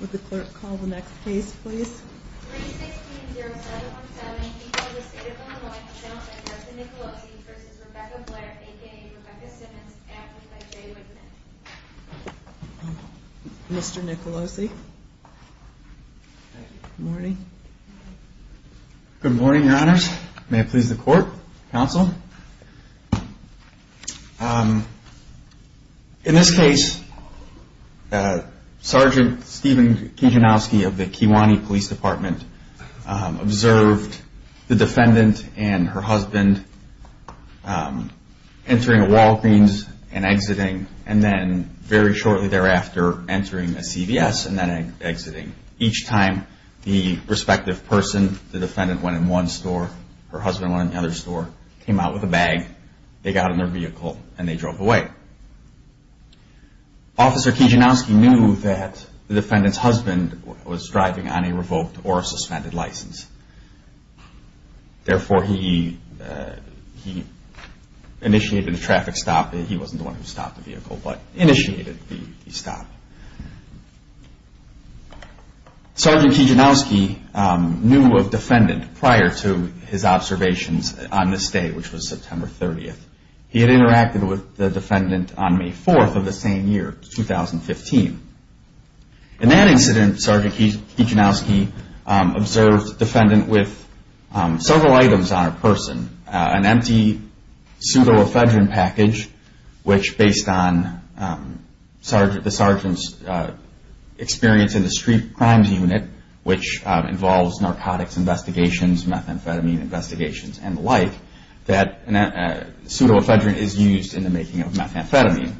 Would the clerk call the next case, please? 3-16-0717, e-mail to the State of Illinois, a gentleman, Justin Nicolosi v. Rebecca Blair, a.k.a. Rebecca Simmons, amplified by Jay Whitman. Mr. Nicolosi? Good morning. Good morning, Your Honors. May it please the Court, Counsel? In this case, Sgt. Stephen Kijanowski of the Kewanee Police Department observed the defendant and her husband entering a Walgreens and exiting and then very shortly thereafter entering a CVS and then exiting. Each time, the respective person, the defendant went in one store, her husband went in the other store, came out with a bag, they got in their vehicle, and they drove away. Officer Kijanowski knew that the defendant's husband was driving on a revoked or a suspended license. Therefore, he initiated a traffic stop. He wasn't the one who stopped the vehicle, but initiated the stop. Sgt. Kijanowski knew of defendant prior to his observations on this day, which was September 30th. He had interacted with the defendant on May 4th of the same year, 2015. In that incident, Sgt. Kijanowski observed defendant with several items on a person, an empty pseudoephedrine package, which based on the sergeant's experience in the street crimes unit, which involves narcotics investigations, methamphetamine investigations, and the like, that pseudoephedrine is used in the making of methamphetamine.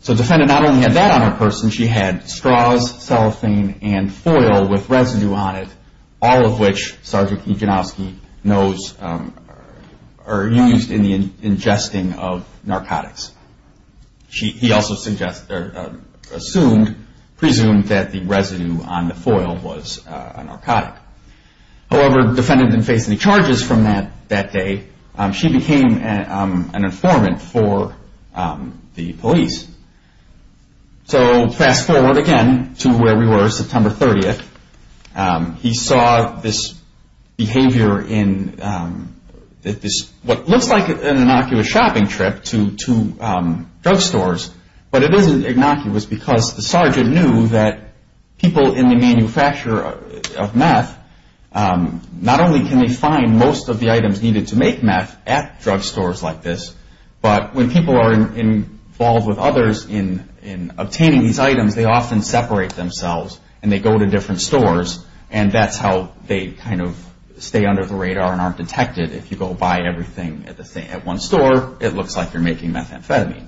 So the defendant not only had that on her person, she had straws, cellophane, and foil with residue on it, all of which Sgt. Kijanowski knows are used in the ingesting of narcotics. He also assumed that the residue on the foil was a narcotic. However, the defendant didn't face any charges from that day. She became an informant for the police. So fast forward again to where we were September 30th. He saw this behavior in what looks like an innocuous shopping trip to drugstores, but it isn't innocuous because the sergeant knew that people in the manufacture of meth, not only can they find most of the items needed to make meth at drugstores like this, but when people are involved with others in obtaining these items, they often separate themselves and they go to different stores and that's how they kind of stay under the radar and aren't detected. If you go buy everything at one store, it looks like you're making methamphetamine.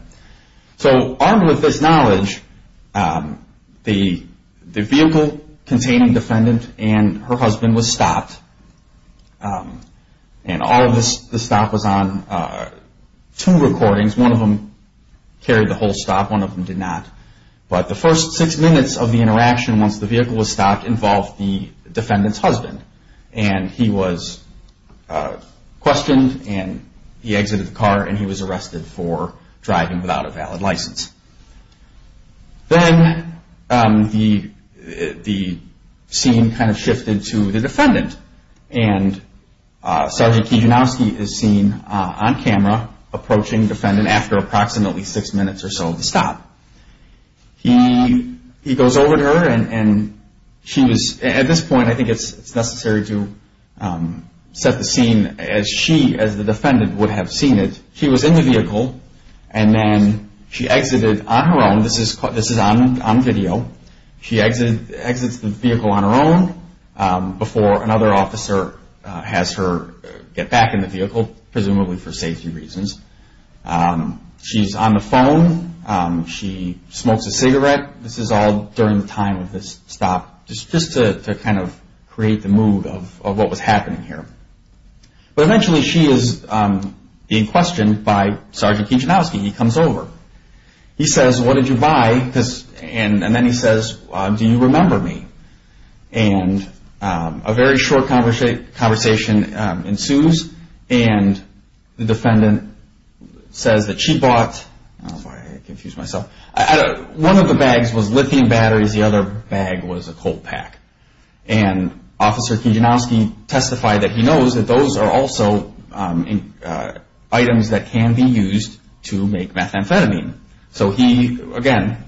So armed with this knowledge, the vehicle containing the defendant and her husband was stopped. And all of the stop was on two recordings. One of them carried the whole stop, one of them did not. But the first six minutes of the interaction once the vehicle was stopped involved the defendant's husband and he was questioned and he exited the car and he was arrested for driving without a valid license. Then the scene kind of shifted to the defendant and Sergeant Kijanowski is seen on camera approaching the defendant after approximately six minutes or so of the stop. He goes over to her and at this point I think it's necessary to set the scene as she, as the defendant, would have seen it. She was in the vehicle and then she exited on her own. This is on video. She exits the vehicle on her own before another officer has her get back in the vehicle, presumably for safety reasons. She's on the phone. She smokes a cigarette. This is all during the time of this stop just to kind of create the mood of what was happening here. But eventually she is being questioned by Sergeant Kijanowski. He comes over. He says, what did you buy? And then he says, do you remember me? And a very short conversation ensues and the defendant says that she bought, one of the bags was lithium batteries, the other bag was a coal pack. And Officer Kijanowski testified that he knows that those are also items that can be used to make methamphetamine. So he, again,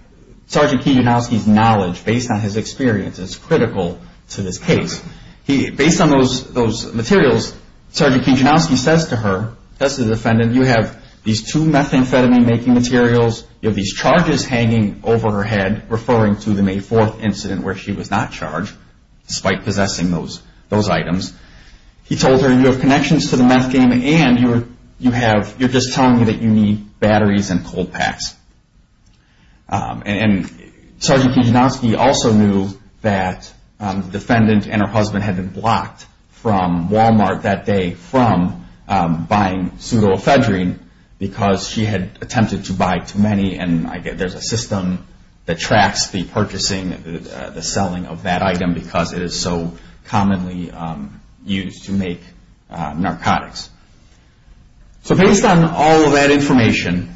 Sergeant Kijanowski's knowledge based on his experience is critical to this case. Based on those materials, Sergeant Kijanowski says to her, says to the defendant, you have these two methamphetamine making materials, you have these charges hanging over her head, referring to the May 4th incident where she was not charged, despite possessing those items. He told her, you have connections to the meth game and you have, you're just telling me that you need batteries and coal packs. And Sergeant Kijanowski also knew that the defendant and her husband had been blocked from Walmart that day from buying pseudoephedrine because she had attempted to buy too many and there's a system that tracks the purchasing and the selling of that item because it is so commonly used to make narcotics. So based on all of that information,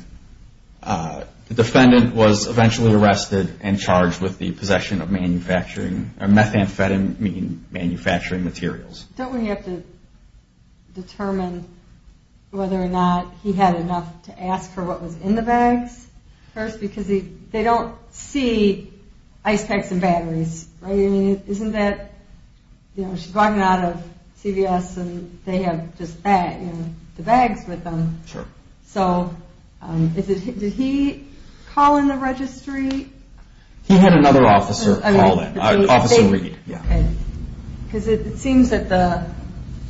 the defendant was eventually arrested and charged with the possession of methamphetamine manufacturing materials. Don't we have to determine whether or not he had enough to ask for what was in the bags? First, because they don't see ice packs and batteries, right? I mean, isn't that, you know, she's walking out of CVS and they have just that, you know, the bags with them. Sure. So did he call in the registry? He had another officer call in, Officer Reed. Because it seems that the,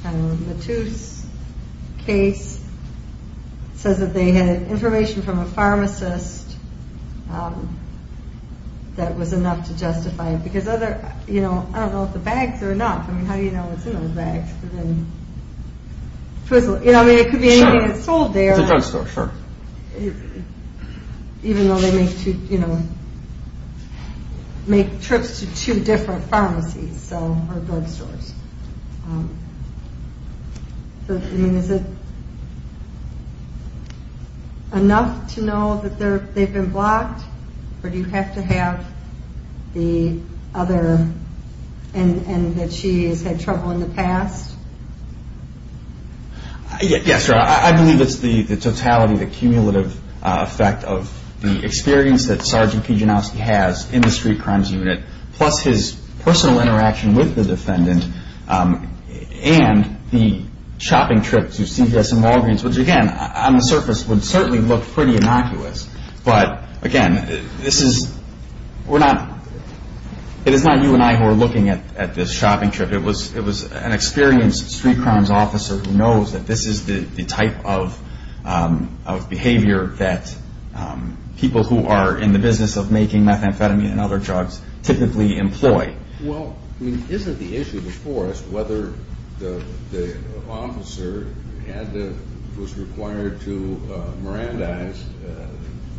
I don't know, Latouse case says that they had information from a pharmacist that was enough to justify it because other, you know, I don't know if the bags are enough. I mean, how do you know what's in those bags? You know, I mean, it could be anything that's sold there. It's a drugstore, sure. Even though they make trips to two different pharmacies or drugstores. I mean, is it enough to know that they've been blocked or do you have to have the other and that she's had trouble in the past? Yes, sir. I believe it's the totality, the cumulative effect of the experience that Sergeant Kijanowski has in the street crimes unit plus his personal interaction with the defendant and the shopping trip to CVS and Walgreens, which again, on the surface would certainly look pretty innocuous. But again, this is, we're not, it is not you and I who are looking at this shopping trip. It was an experienced street crimes officer who knows that this is the type of behavior that people who are in the business of making methamphetamine and other drugs typically employ. Well, I mean, isn't the issue before us whether the officer was required to Mirandize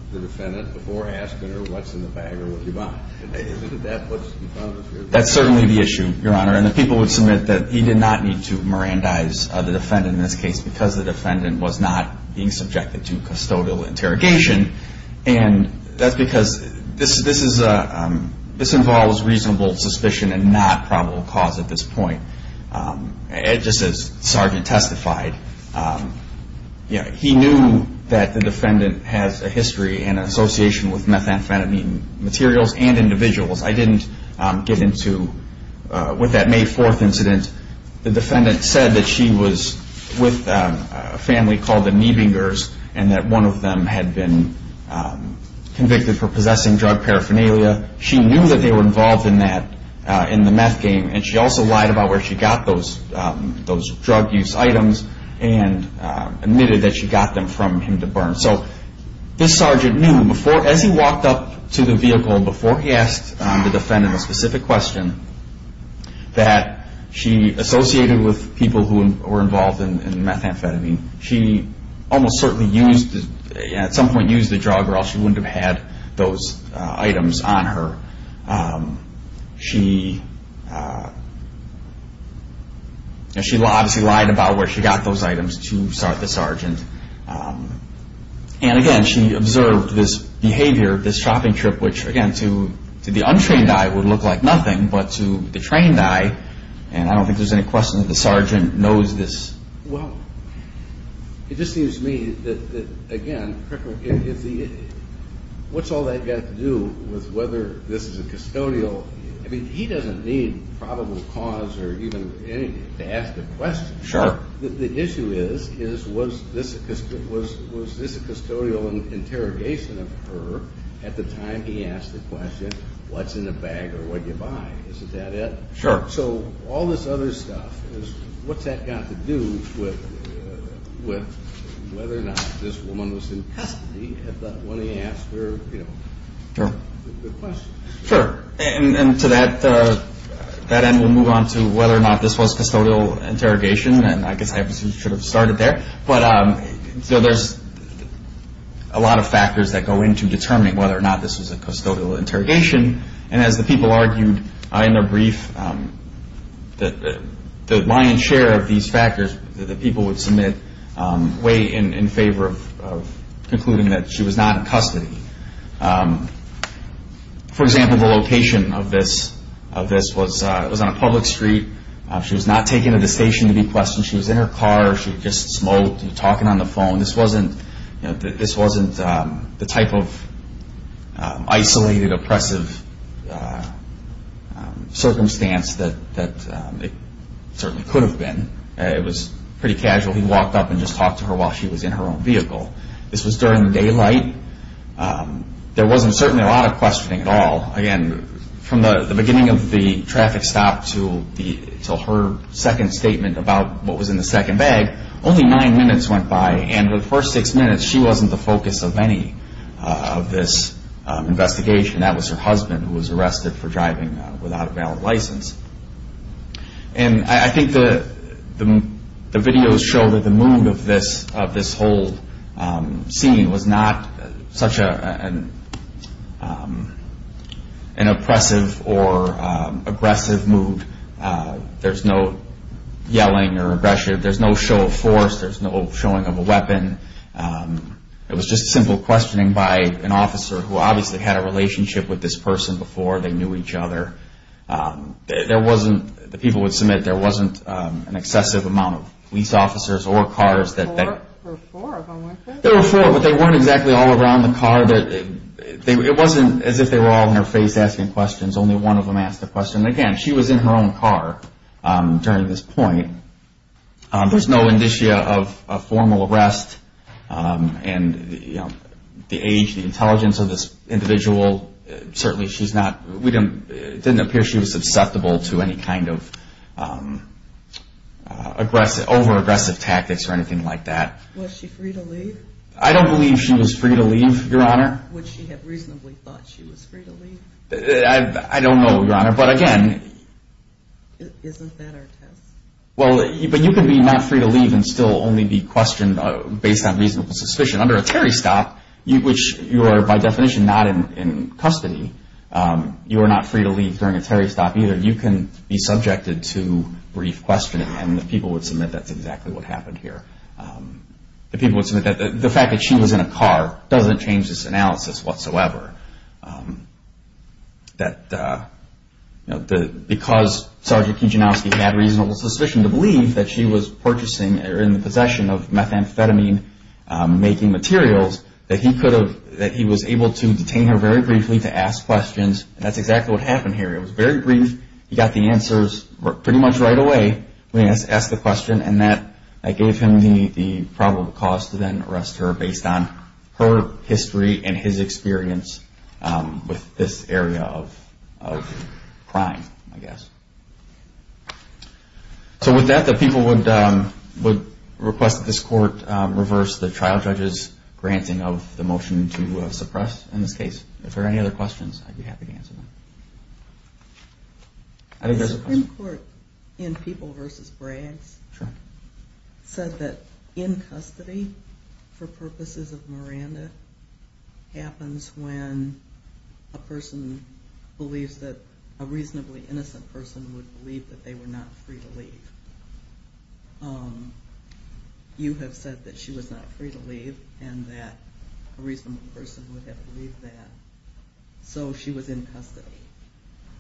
the defendant before asking her what's in the bag or what did you buy? Isn't that what's in front of us here? That's certainly the issue, Your Honor. And the people would submit that he did not need to Mirandize the defendant in this case because the defendant was not being subjected to custodial interrogation. And that's because this involves reasonable suspicion and not probable cause at this point. Just as Sergeant testified, he knew that the defendant has a history and association with methamphetamine materials and individuals. I didn't get into, with that May 4th incident, the defendant said that she was with a family called the Niebingers and that one of them had been convicted for possessing drug paraphernalia. She knew that they were involved in that, in the meth game, and she also lied about where she got those drug use items and admitted that she got them from him to burn. So this sergeant knew before, as he walked up to the vehicle, before he asked the defendant a specific question, that she associated with people who were involved in methamphetamine. She almost certainly used, at some point used the drug or else she wouldn't have had those items on her. She obviously lied about where she got those items to the sergeant. And again, she observed this behavior, this shopping trip, which again to the untrained eye would look like nothing, but to the trained eye, and I don't think there's any question that the sergeant knows this well. It just seems to me that, again, what's all that got to do with whether this is a custodial, I mean, he doesn't need probable cause or even anything to ask the question. Sure. The issue is, was this a custodial interrogation of her at the time he asked the question, what's in the bag or what did you buy? Is that it? Sure. So all this other stuff, what's that got to do with whether or not this woman was in custody at that point he asked her the question? Sure. And to that end, we'll move on to whether or not this was custodial interrogation, and I guess I should have started there. But there's a lot of factors that go into determining whether or not this was a custodial interrogation. And as the people argued in their brief, the lion's share of these factors that the people would submit weigh in favor of concluding that she was not in custody. For example, the location of this was on a public street. She was not taken to the station to be questioned. She was in her car. She just smoked and talking on the phone. This wasn't the type of isolated, oppressive circumstance that it certainly could have been. It was pretty casual. He walked up and just talked to her while she was in her own vehicle. This was during the daylight. There wasn't certainly a lot of questioning at all. Again, from the beginning of the traffic stop to her second statement about what was in the second bag, only nine minutes went by. And for the first six minutes, she wasn't the focus of any of this investigation. That was her husband who was arrested for driving without a valid license. And I think the videos show that the mood of this whole scene was not such an oppressive or aggressive mood. There's no yelling or aggression. There's no show of force. There's no showing of a weapon. It was just simple questioning by an officer who obviously had a relationship with this person before. They knew each other. The people would submit there wasn't an excessive amount of police officers or cars. There were four of them, weren't there? There were four, but they weren't exactly all around the car. It wasn't as if they were all in her face asking questions. Only one of them asked a question. Again, she was in her own car during this point. There's no indicia of a formal arrest. And the age, the intelligence of this individual, certainly she's not, it didn't appear she was susceptible to any kind of aggressive, over-aggressive tactics or anything like that. Was she free to leave? I don't believe she was free to leave, Your Honor. Would she have reasonably thought she was free to leave? I don't know, Your Honor, but again. Isn't that our test? But you can be not free to leave and still only be questioned based on reasonable suspicion. Under a Terry stop, which you are by definition not in custody, you are not free to leave during a Terry stop either. You can be subjected to brief questioning, and the people would submit that's exactly what happened here. The people would submit that the fact that she was in a car doesn't change this analysis whatsoever. That because Sergeant Kijanowski had reasonable suspicion to believe that she was purchasing or in the possession of methamphetamine-making materials, that he was able to detain her very briefly to ask questions. That's exactly what happened here. It was very brief. He got the answers pretty much right away when he asked the question. And that gave him the probable cause to then arrest her based on her history and his experience with this area of crime, I guess. So with that, the people would request that this Court reverse the trial judge's granting of the motion to suppress in this case. If there are any other questions, I'd be happy to answer them. I think there's a question. The Supreme Court in People v. Braggs said that in custody for purposes of Miranda happens when a person believes that a reasonably innocent person would believe that they were not free to leave. You have said that she was not free to leave and that a reasonable person would have believed that. So she was in custody,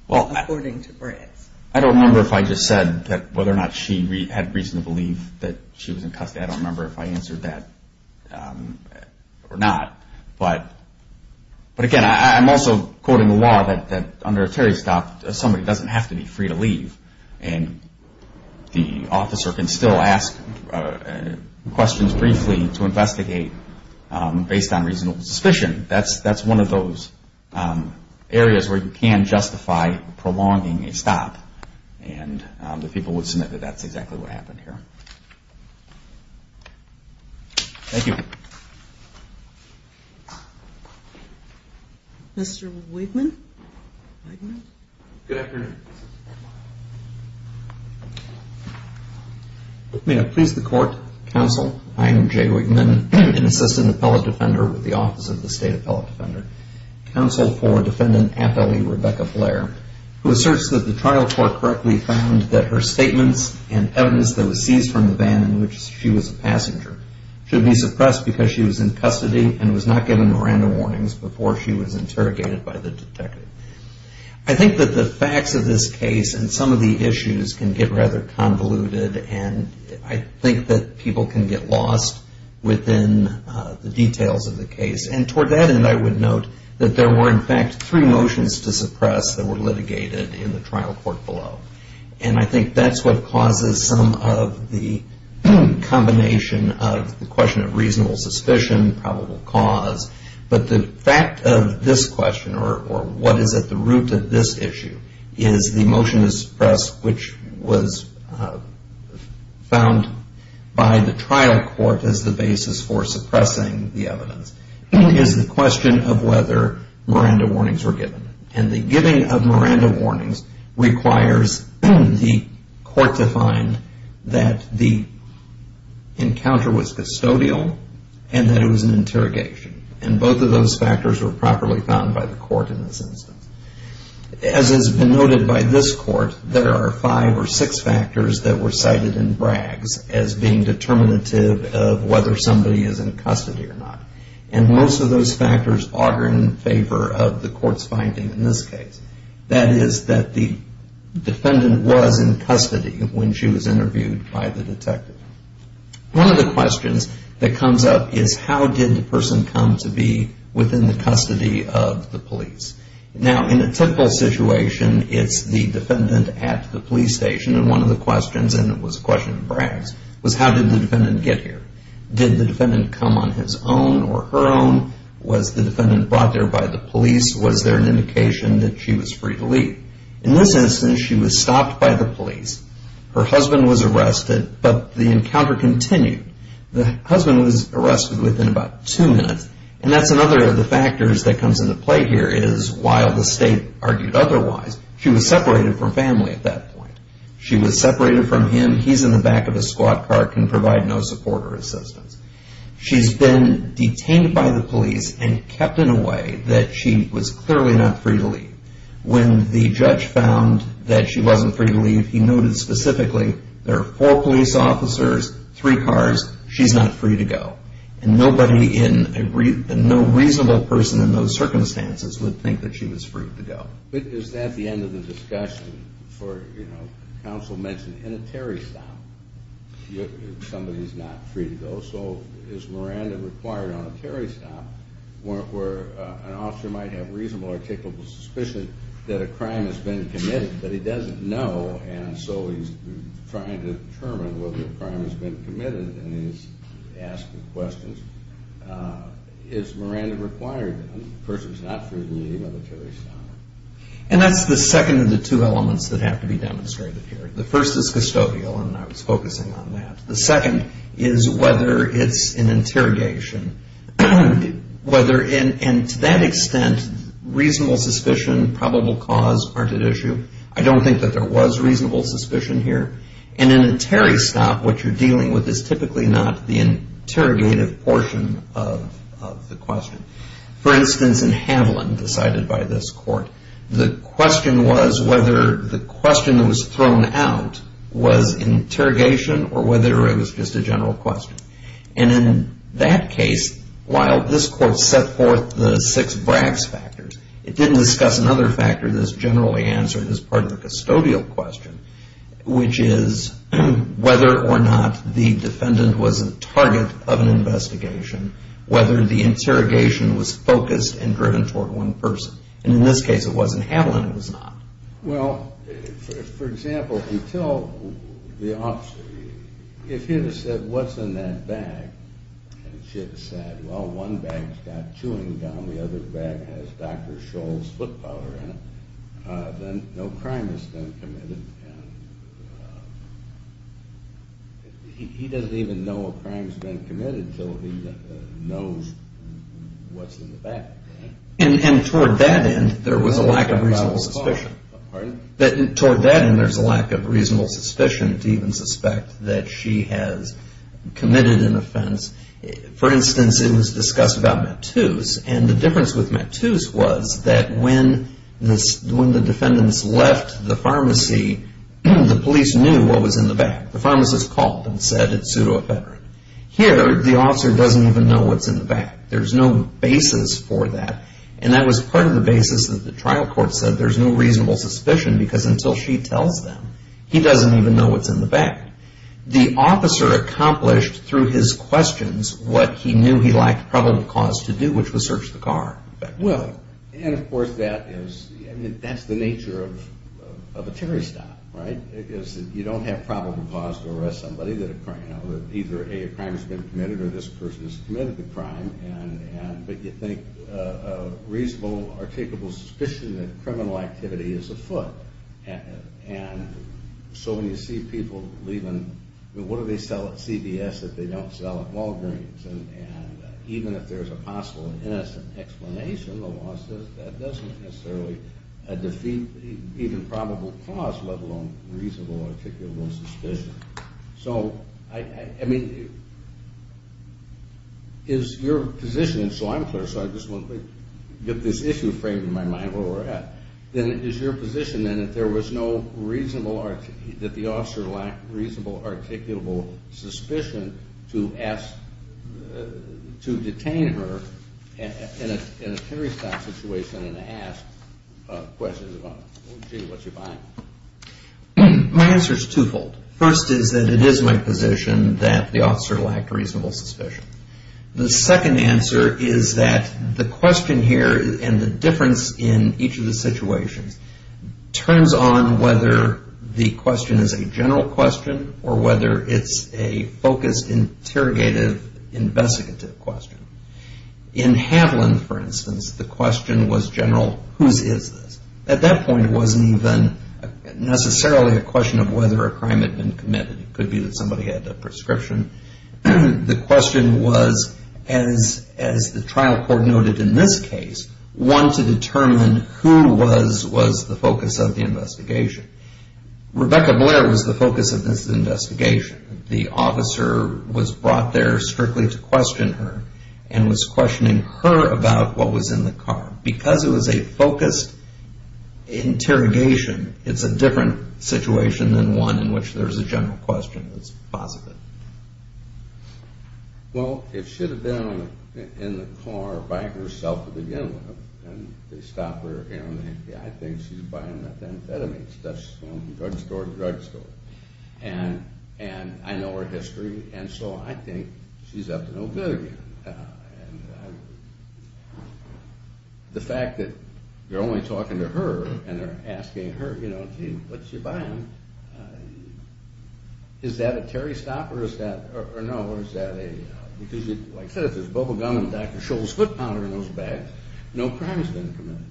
according to Braggs. I don't remember if I just said whether or not she had reason to believe that she was in custody. I don't remember if I answered that or not. But again, I'm also quoting the law that under a terrorist act, somebody doesn't have to be free to leave. And the officer can still ask questions briefly to investigate based on reasonable suspicion. That's one of those areas where you can justify prolonging a stop. And the people would submit that that's exactly what happened here. Thank you. Mr. Wigman. Good afternoon. May I please the court, counsel? I am Jay Wigman, an assistant appellate defender with the Office of the State Appellate Defender. Counsel for Defendant Appellee Rebecca Blair, who asserts that the trial court correctly found that her statements and evidence that was seized from the van in which she was a passenger should be suppressed because she was in custody and was not given Miranda warnings before she was interrogated by the detective. I think that the facts of this case and some of the issues can get rather convoluted. And I think that people can get lost within the details of the case. And toward that end, I would note that there were in fact three motions to suppress that were litigated in the trial court below. And I think that's what causes some of the combination of the question of reasonable suspicion, probable cause. But the fact of this question, or what is at the root of this issue, is the motion to suppress, which was found by the trial court as the basis for suppressing the evidence, is the question of whether Miranda warnings were given. And the giving of Miranda warnings requires the court to find that the encounter was custodial and that it was an interrogation. And both of those factors were properly found by the court in this instance. As has been noted by this court, there are five or six factors that were cited in Bragg's as being determinative of whether somebody is in custody or not. And most of those factors are in favor of the court's finding in this case. That is that the defendant was in custody when she was interviewed by the detective. One of the questions that comes up is how did the person come to be within the custody of the police? Now, in a typical situation, it's the defendant at the police station. And one of the questions, and it was a question of Bragg's, was how did the defendant get here? Did the defendant come on his own or her own? Was the defendant brought there by the police? Was there an indication that she was free to leave? In this instance, she was stopped by the police. Her husband was arrested, but the encounter continued. The husband was arrested within about two minutes. And that's another of the factors that comes into play here is while the state argued otherwise, she was separated from family at that point. She was separated from him. When he's in the back of a squat car, it can provide no support or assistance. She's been detained by the police and kept in a way that she was clearly not free to leave. When the judge found that she wasn't free to leave, he noted specifically there are four police officers, three cars, she's not free to go. And nobody in a reasonable person in those circumstances would think that she was free to go. But is that the end of the discussion? Counsel mentioned in a Terry stop, somebody's not free to go. So is Miranda required on a Terry stop where an officer might have reasonable articulable suspicion that a crime has been committed, but he doesn't know, and so he's trying to determine whether a crime has been committed and he's asking questions. Is Miranda required? The person's not free to leave on a Terry stop. And that's the second of the two elements that have to be demonstrated here. The first is custodial, and I was focusing on that. The second is whether it's an interrogation. And to that extent, reasonable suspicion, probable cause aren't at issue. I don't think that there was reasonable suspicion here. And in a Terry stop, what you're dealing with is typically not the interrogative portion of the question. For instance, in Haviland, decided by this court, the question was whether the question that was thrown out was interrogation or whether it was just a general question. And in that case, while this court set forth the six BRACS factors, it didn't discuss another factor that's generally answered as part of the custodial question, which is whether or not the defendant was a target of an investigation, whether the interrogation was focused and driven toward one person. And in this case, it wasn't Haviland, it was not. Well, for example, if you tell the officer, if he had said, what's in that bag? And she had said, well, one bag's got chewing gum, the other bag has Dr. Scholl's foot powder in it, then no crime has been committed. He doesn't even know a crime's been committed, so he knows what's in the bag. And toward that end, there was a lack of reasonable suspicion. Pardon? For instance, it was discussed about Mattus, and the difference with Mattus was that when the defendants left the pharmacy, the police knew what was in the bag. The pharmacist called and said, it's pseudoephedrine. Here, the officer doesn't even know what's in the bag. There's no basis for that, and that was part of the basis that the trial court said there's no reasonable suspicion, because until she tells them, he doesn't even know what's in the bag. The officer accomplished, through his questions, what he knew he lacked probable cause to do, which was search the car. And, of course, that's the nature of a Terry stop, right? You don't have probable cause to arrest somebody that either, A, a crime has been committed, or this person has committed the crime, but you think a reasonable, articulable suspicion that criminal activity is afoot. And so when you see people leaving, what do they sell at CVS that they don't sell at Walgreens? And even if there's a possible and innocent explanation, the law says that doesn't necessarily defeat even probable cause, let alone reasonable, articulable suspicion. So, I mean, is your position, and so I'm clear, so I just want to get this issue framed in my mind where we're at. Then is your position, then, that there was no reasonable, that the officer lacked reasonable, articulable suspicion to ask, to detain her in a Terry stop situation and ask questions about, gee, what's she buying? My answer is twofold. First is that it is my position that the officer lacked reasonable suspicion. The second answer is that the question here and the difference in each of the situations turns on whether the question is a general question or whether it's a focused, interrogative, investigative question. In Haviland, for instance, the question was general, whose is this? At that point, it wasn't even necessarily a question of whether a crime had been committed. It could be that somebody had a prescription. The question was, as the trial court noted in this case, one to determine who was the focus of the investigation. Rebecca Blair was the focus of this investigation. The officer was brought there strictly to question her and was questioning her about what was in the car. Because it was a focused interrogation, it's a different situation than one in which there's a general question that's positive. Well, it should have been in the car by herself to begin with. And they stop her, and I think she's buying methamphetamines. That's drugstore to drugstore. And I know her history, and so I think she's up to no good again. And the fact that they're only talking to her and they're asking her, you know, gee, what did you buy him? Is that a terry stop or is that a, like I said, if there's bubble gum and Dr. Scholl's foot powder in those bags, no crime has been committed.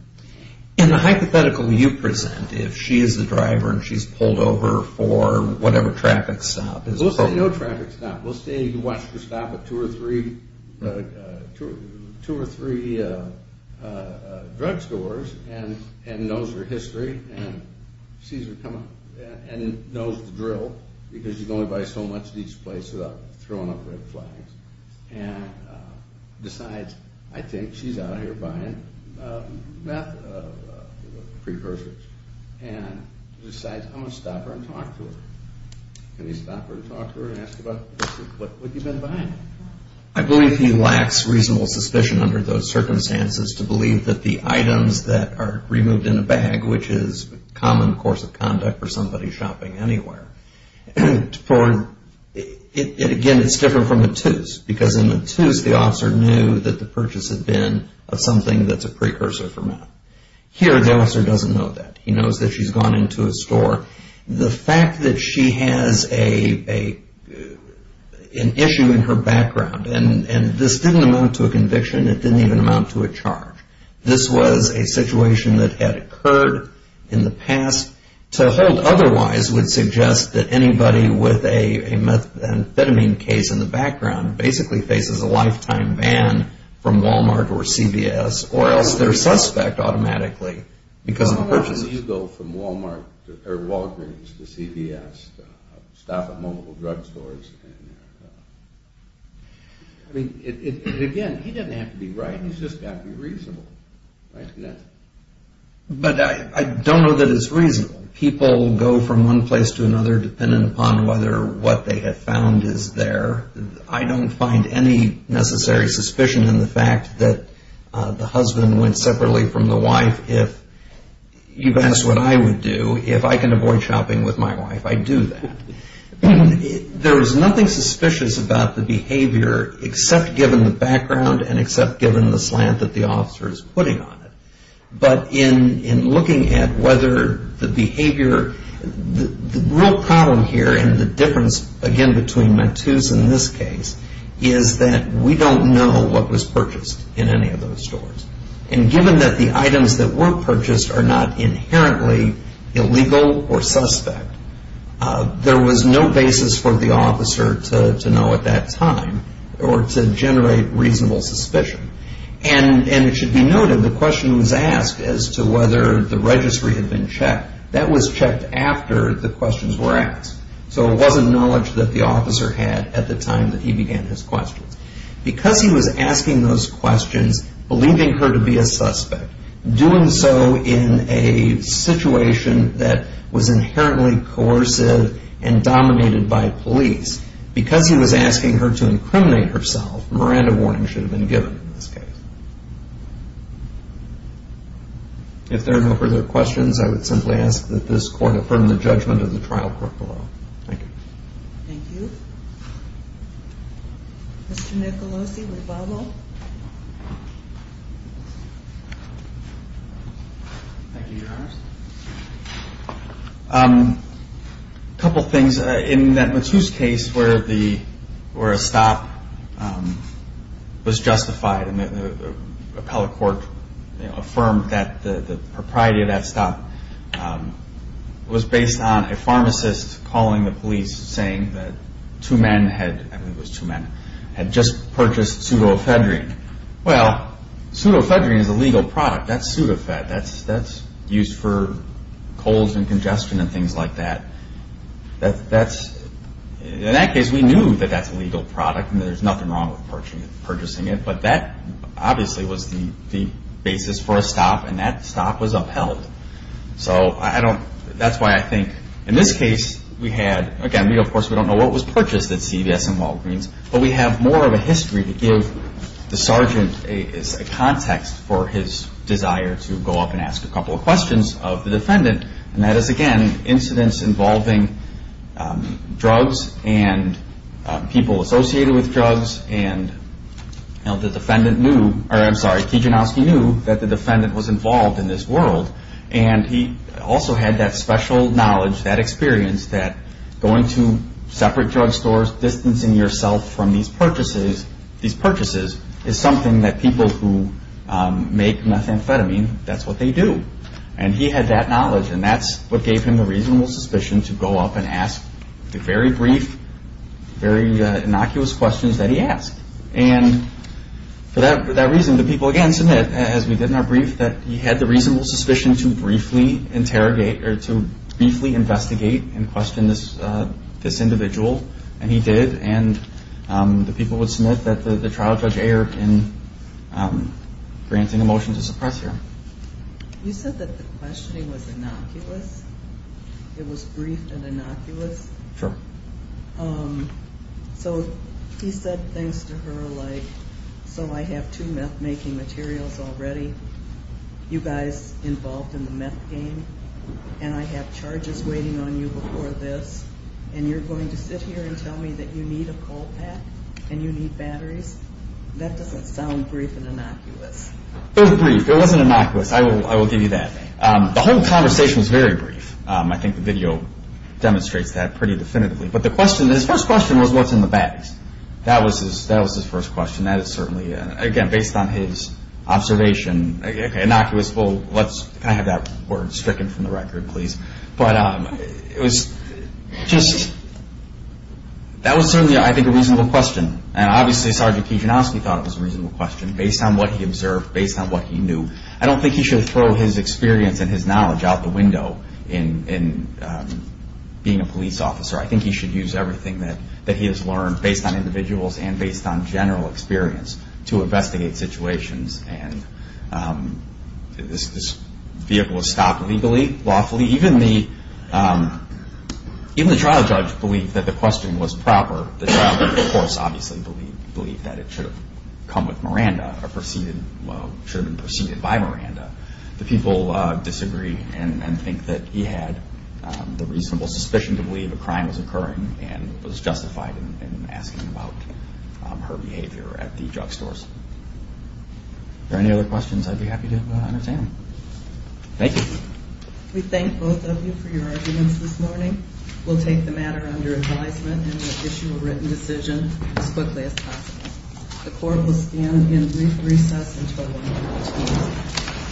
And the hypothetical you present, if she is the driver and she's pulled over for whatever traffic stop is appropriate. We'll say no traffic stop. We'll say you watched her stop at two or three drugstores and knows her history and sees her come up and knows the drill because you can only buy so much at each place without throwing up red flags. And decides, I think she's out here buying methamphetamines and decides I'm going to stop her and talk to her. And they stop her and talk to her and ask about what you've been buying. I believe he lacks reasonable suspicion under those circumstances to believe that the items that are removed in a bag, which is a common course of conduct for somebody shopping anywhere, again, it's different from a two's because in a two's, the officer knew that the purchase had been of something that's a precursor for meth. Here, the officer doesn't know that. He knows that she's gone into a store. The fact that she has an issue in her background, and this didn't amount to a conviction. It didn't even amount to a charge. This was a situation that had occurred in the past. To hold otherwise would suggest that anybody with a methamphetamine case in the background basically faces a lifetime ban from Walmart or CVS or else they're a suspect automatically because of the purchases. How often do you go from Walgreens to CVS to stop at multiple drugstores? Again, he doesn't have to be right. He's just got to be reasonable. But I don't know that it's reasonable. People go from one place to another depending upon whether what they have found is there. I don't find any necessary suspicion in the fact that the husband went separately from the wife. If you've asked what I would do, if I can avoid shopping with my wife, I'd do that. There is nothing suspicious about the behavior except given the background and except given the slant that the officer is putting on it. But in looking at whether the behavior, the real problem here and the difference, again, between Matus and this case is that we don't know what was purchased in any of those stores. And given that the items that were purchased are not inherently illegal or suspect, there was no basis for the officer to know at that time or to generate reasonable suspicion. And it should be noted the question was asked as to whether the registry had been checked. That was checked after the questions were asked. So it wasn't knowledge that the officer had at the time that he began his questions. Because he was asking those questions, believing her to be a suspect, doing so in a situation that was inherently coercive and dominated by police, because he was asking her to incriminate herself, Miranda warning should have been given in this case. If there are no further questions, I would simply ask that this court affirm the judgment of the trial court below. Thank you. Thank you. Mr. Nicolosi with Bobo. Thank you, Your Honors. A couple things. In that Matus case where a stop was justified and the appellate court affirmed that the propriety of that stop was based on a pharmacist calling the police saying that two men had just purchased pseudofedrine. Well, pseudofedrine is a legal product. That's pseudofed. That's used for colds and congestion and things like that. In that case, we knew that that's a legal product and there's nothing wrong with purchasing it. But that obviously was the basis for a stop and that stop was upheld. So that's why I think in this case we had, again, of course we don't know what was purchased at CVS and Walgreens, but we have more of a history to give the sergeant a context for his desire to go up and ask a couple of questions of the defendant. And that is, again, incidents involving drugs and people associated with drugs. And the defendant knew, or I'm sorry, Kijanowski knew that the defendant was involved in this world and he also had that special knowledge, that experience that going to separate drugstores, distancing yourself from these purchases is something that people who make methamphetamine, that's what they do. And he had that knowledge and that's what gave him the reasonable suspicion to go up and ask the very brief, very innocuous questions that he asked. And for that reason, the people, again, submit, as we did in our brief, that he had the reasonable suspicion to briefly investigate and question this individual. And he did. And the people would submit that the trial judge erred in granting a motion to suppress him. You said that the questioning was innocuous? It was brief and innocuous? Sure. So he said things to her like, so I have two meth-making materials already, you guys involved in the meth game, and I have charges waiting on you before this, and you're going to sit here and tell me that you need a coal pack and you need batteries? That doesn't sound brief and innocuous. It was brief. It wasn't innocuous. I will give you that. The whole conversation was very brief. I think the video demonstrates that pretty definitively. But the question, his first question was, what's in the bags? That was his first question. That is certainly, again, based on his observation, innocuous. Can I have that word stricken from the record, please? But it was just, that was certainly, I think, a reasonable question. And obviously Sergeant Kijanowski thought it was a reasonable question based on what he observed, based on what he knew. I don't think he should throw his experience and his knowledge out the window in being a police officer. I think he should use everything that he has learned based on individuals and based on general experience to investigate situations. And this vehicle was stopped legally, lawfully. Even the trial judge believed that the question was proper. The trial judge, of course, obviously believed that it should have come with Miranda or should have been preceded by Miranda. The people disagree and think that he had the reasonable suspicion to believe a crime was occurring and was justified in asking about her behavior at the drug stores. Are there any other questions? I'd be happy to entertain them. Thank you. We thank both of you for your arguments this morning. We'll take the matter under advisement and issue a written decision as quickly as possible. The court will stand in recess until 11 p.m.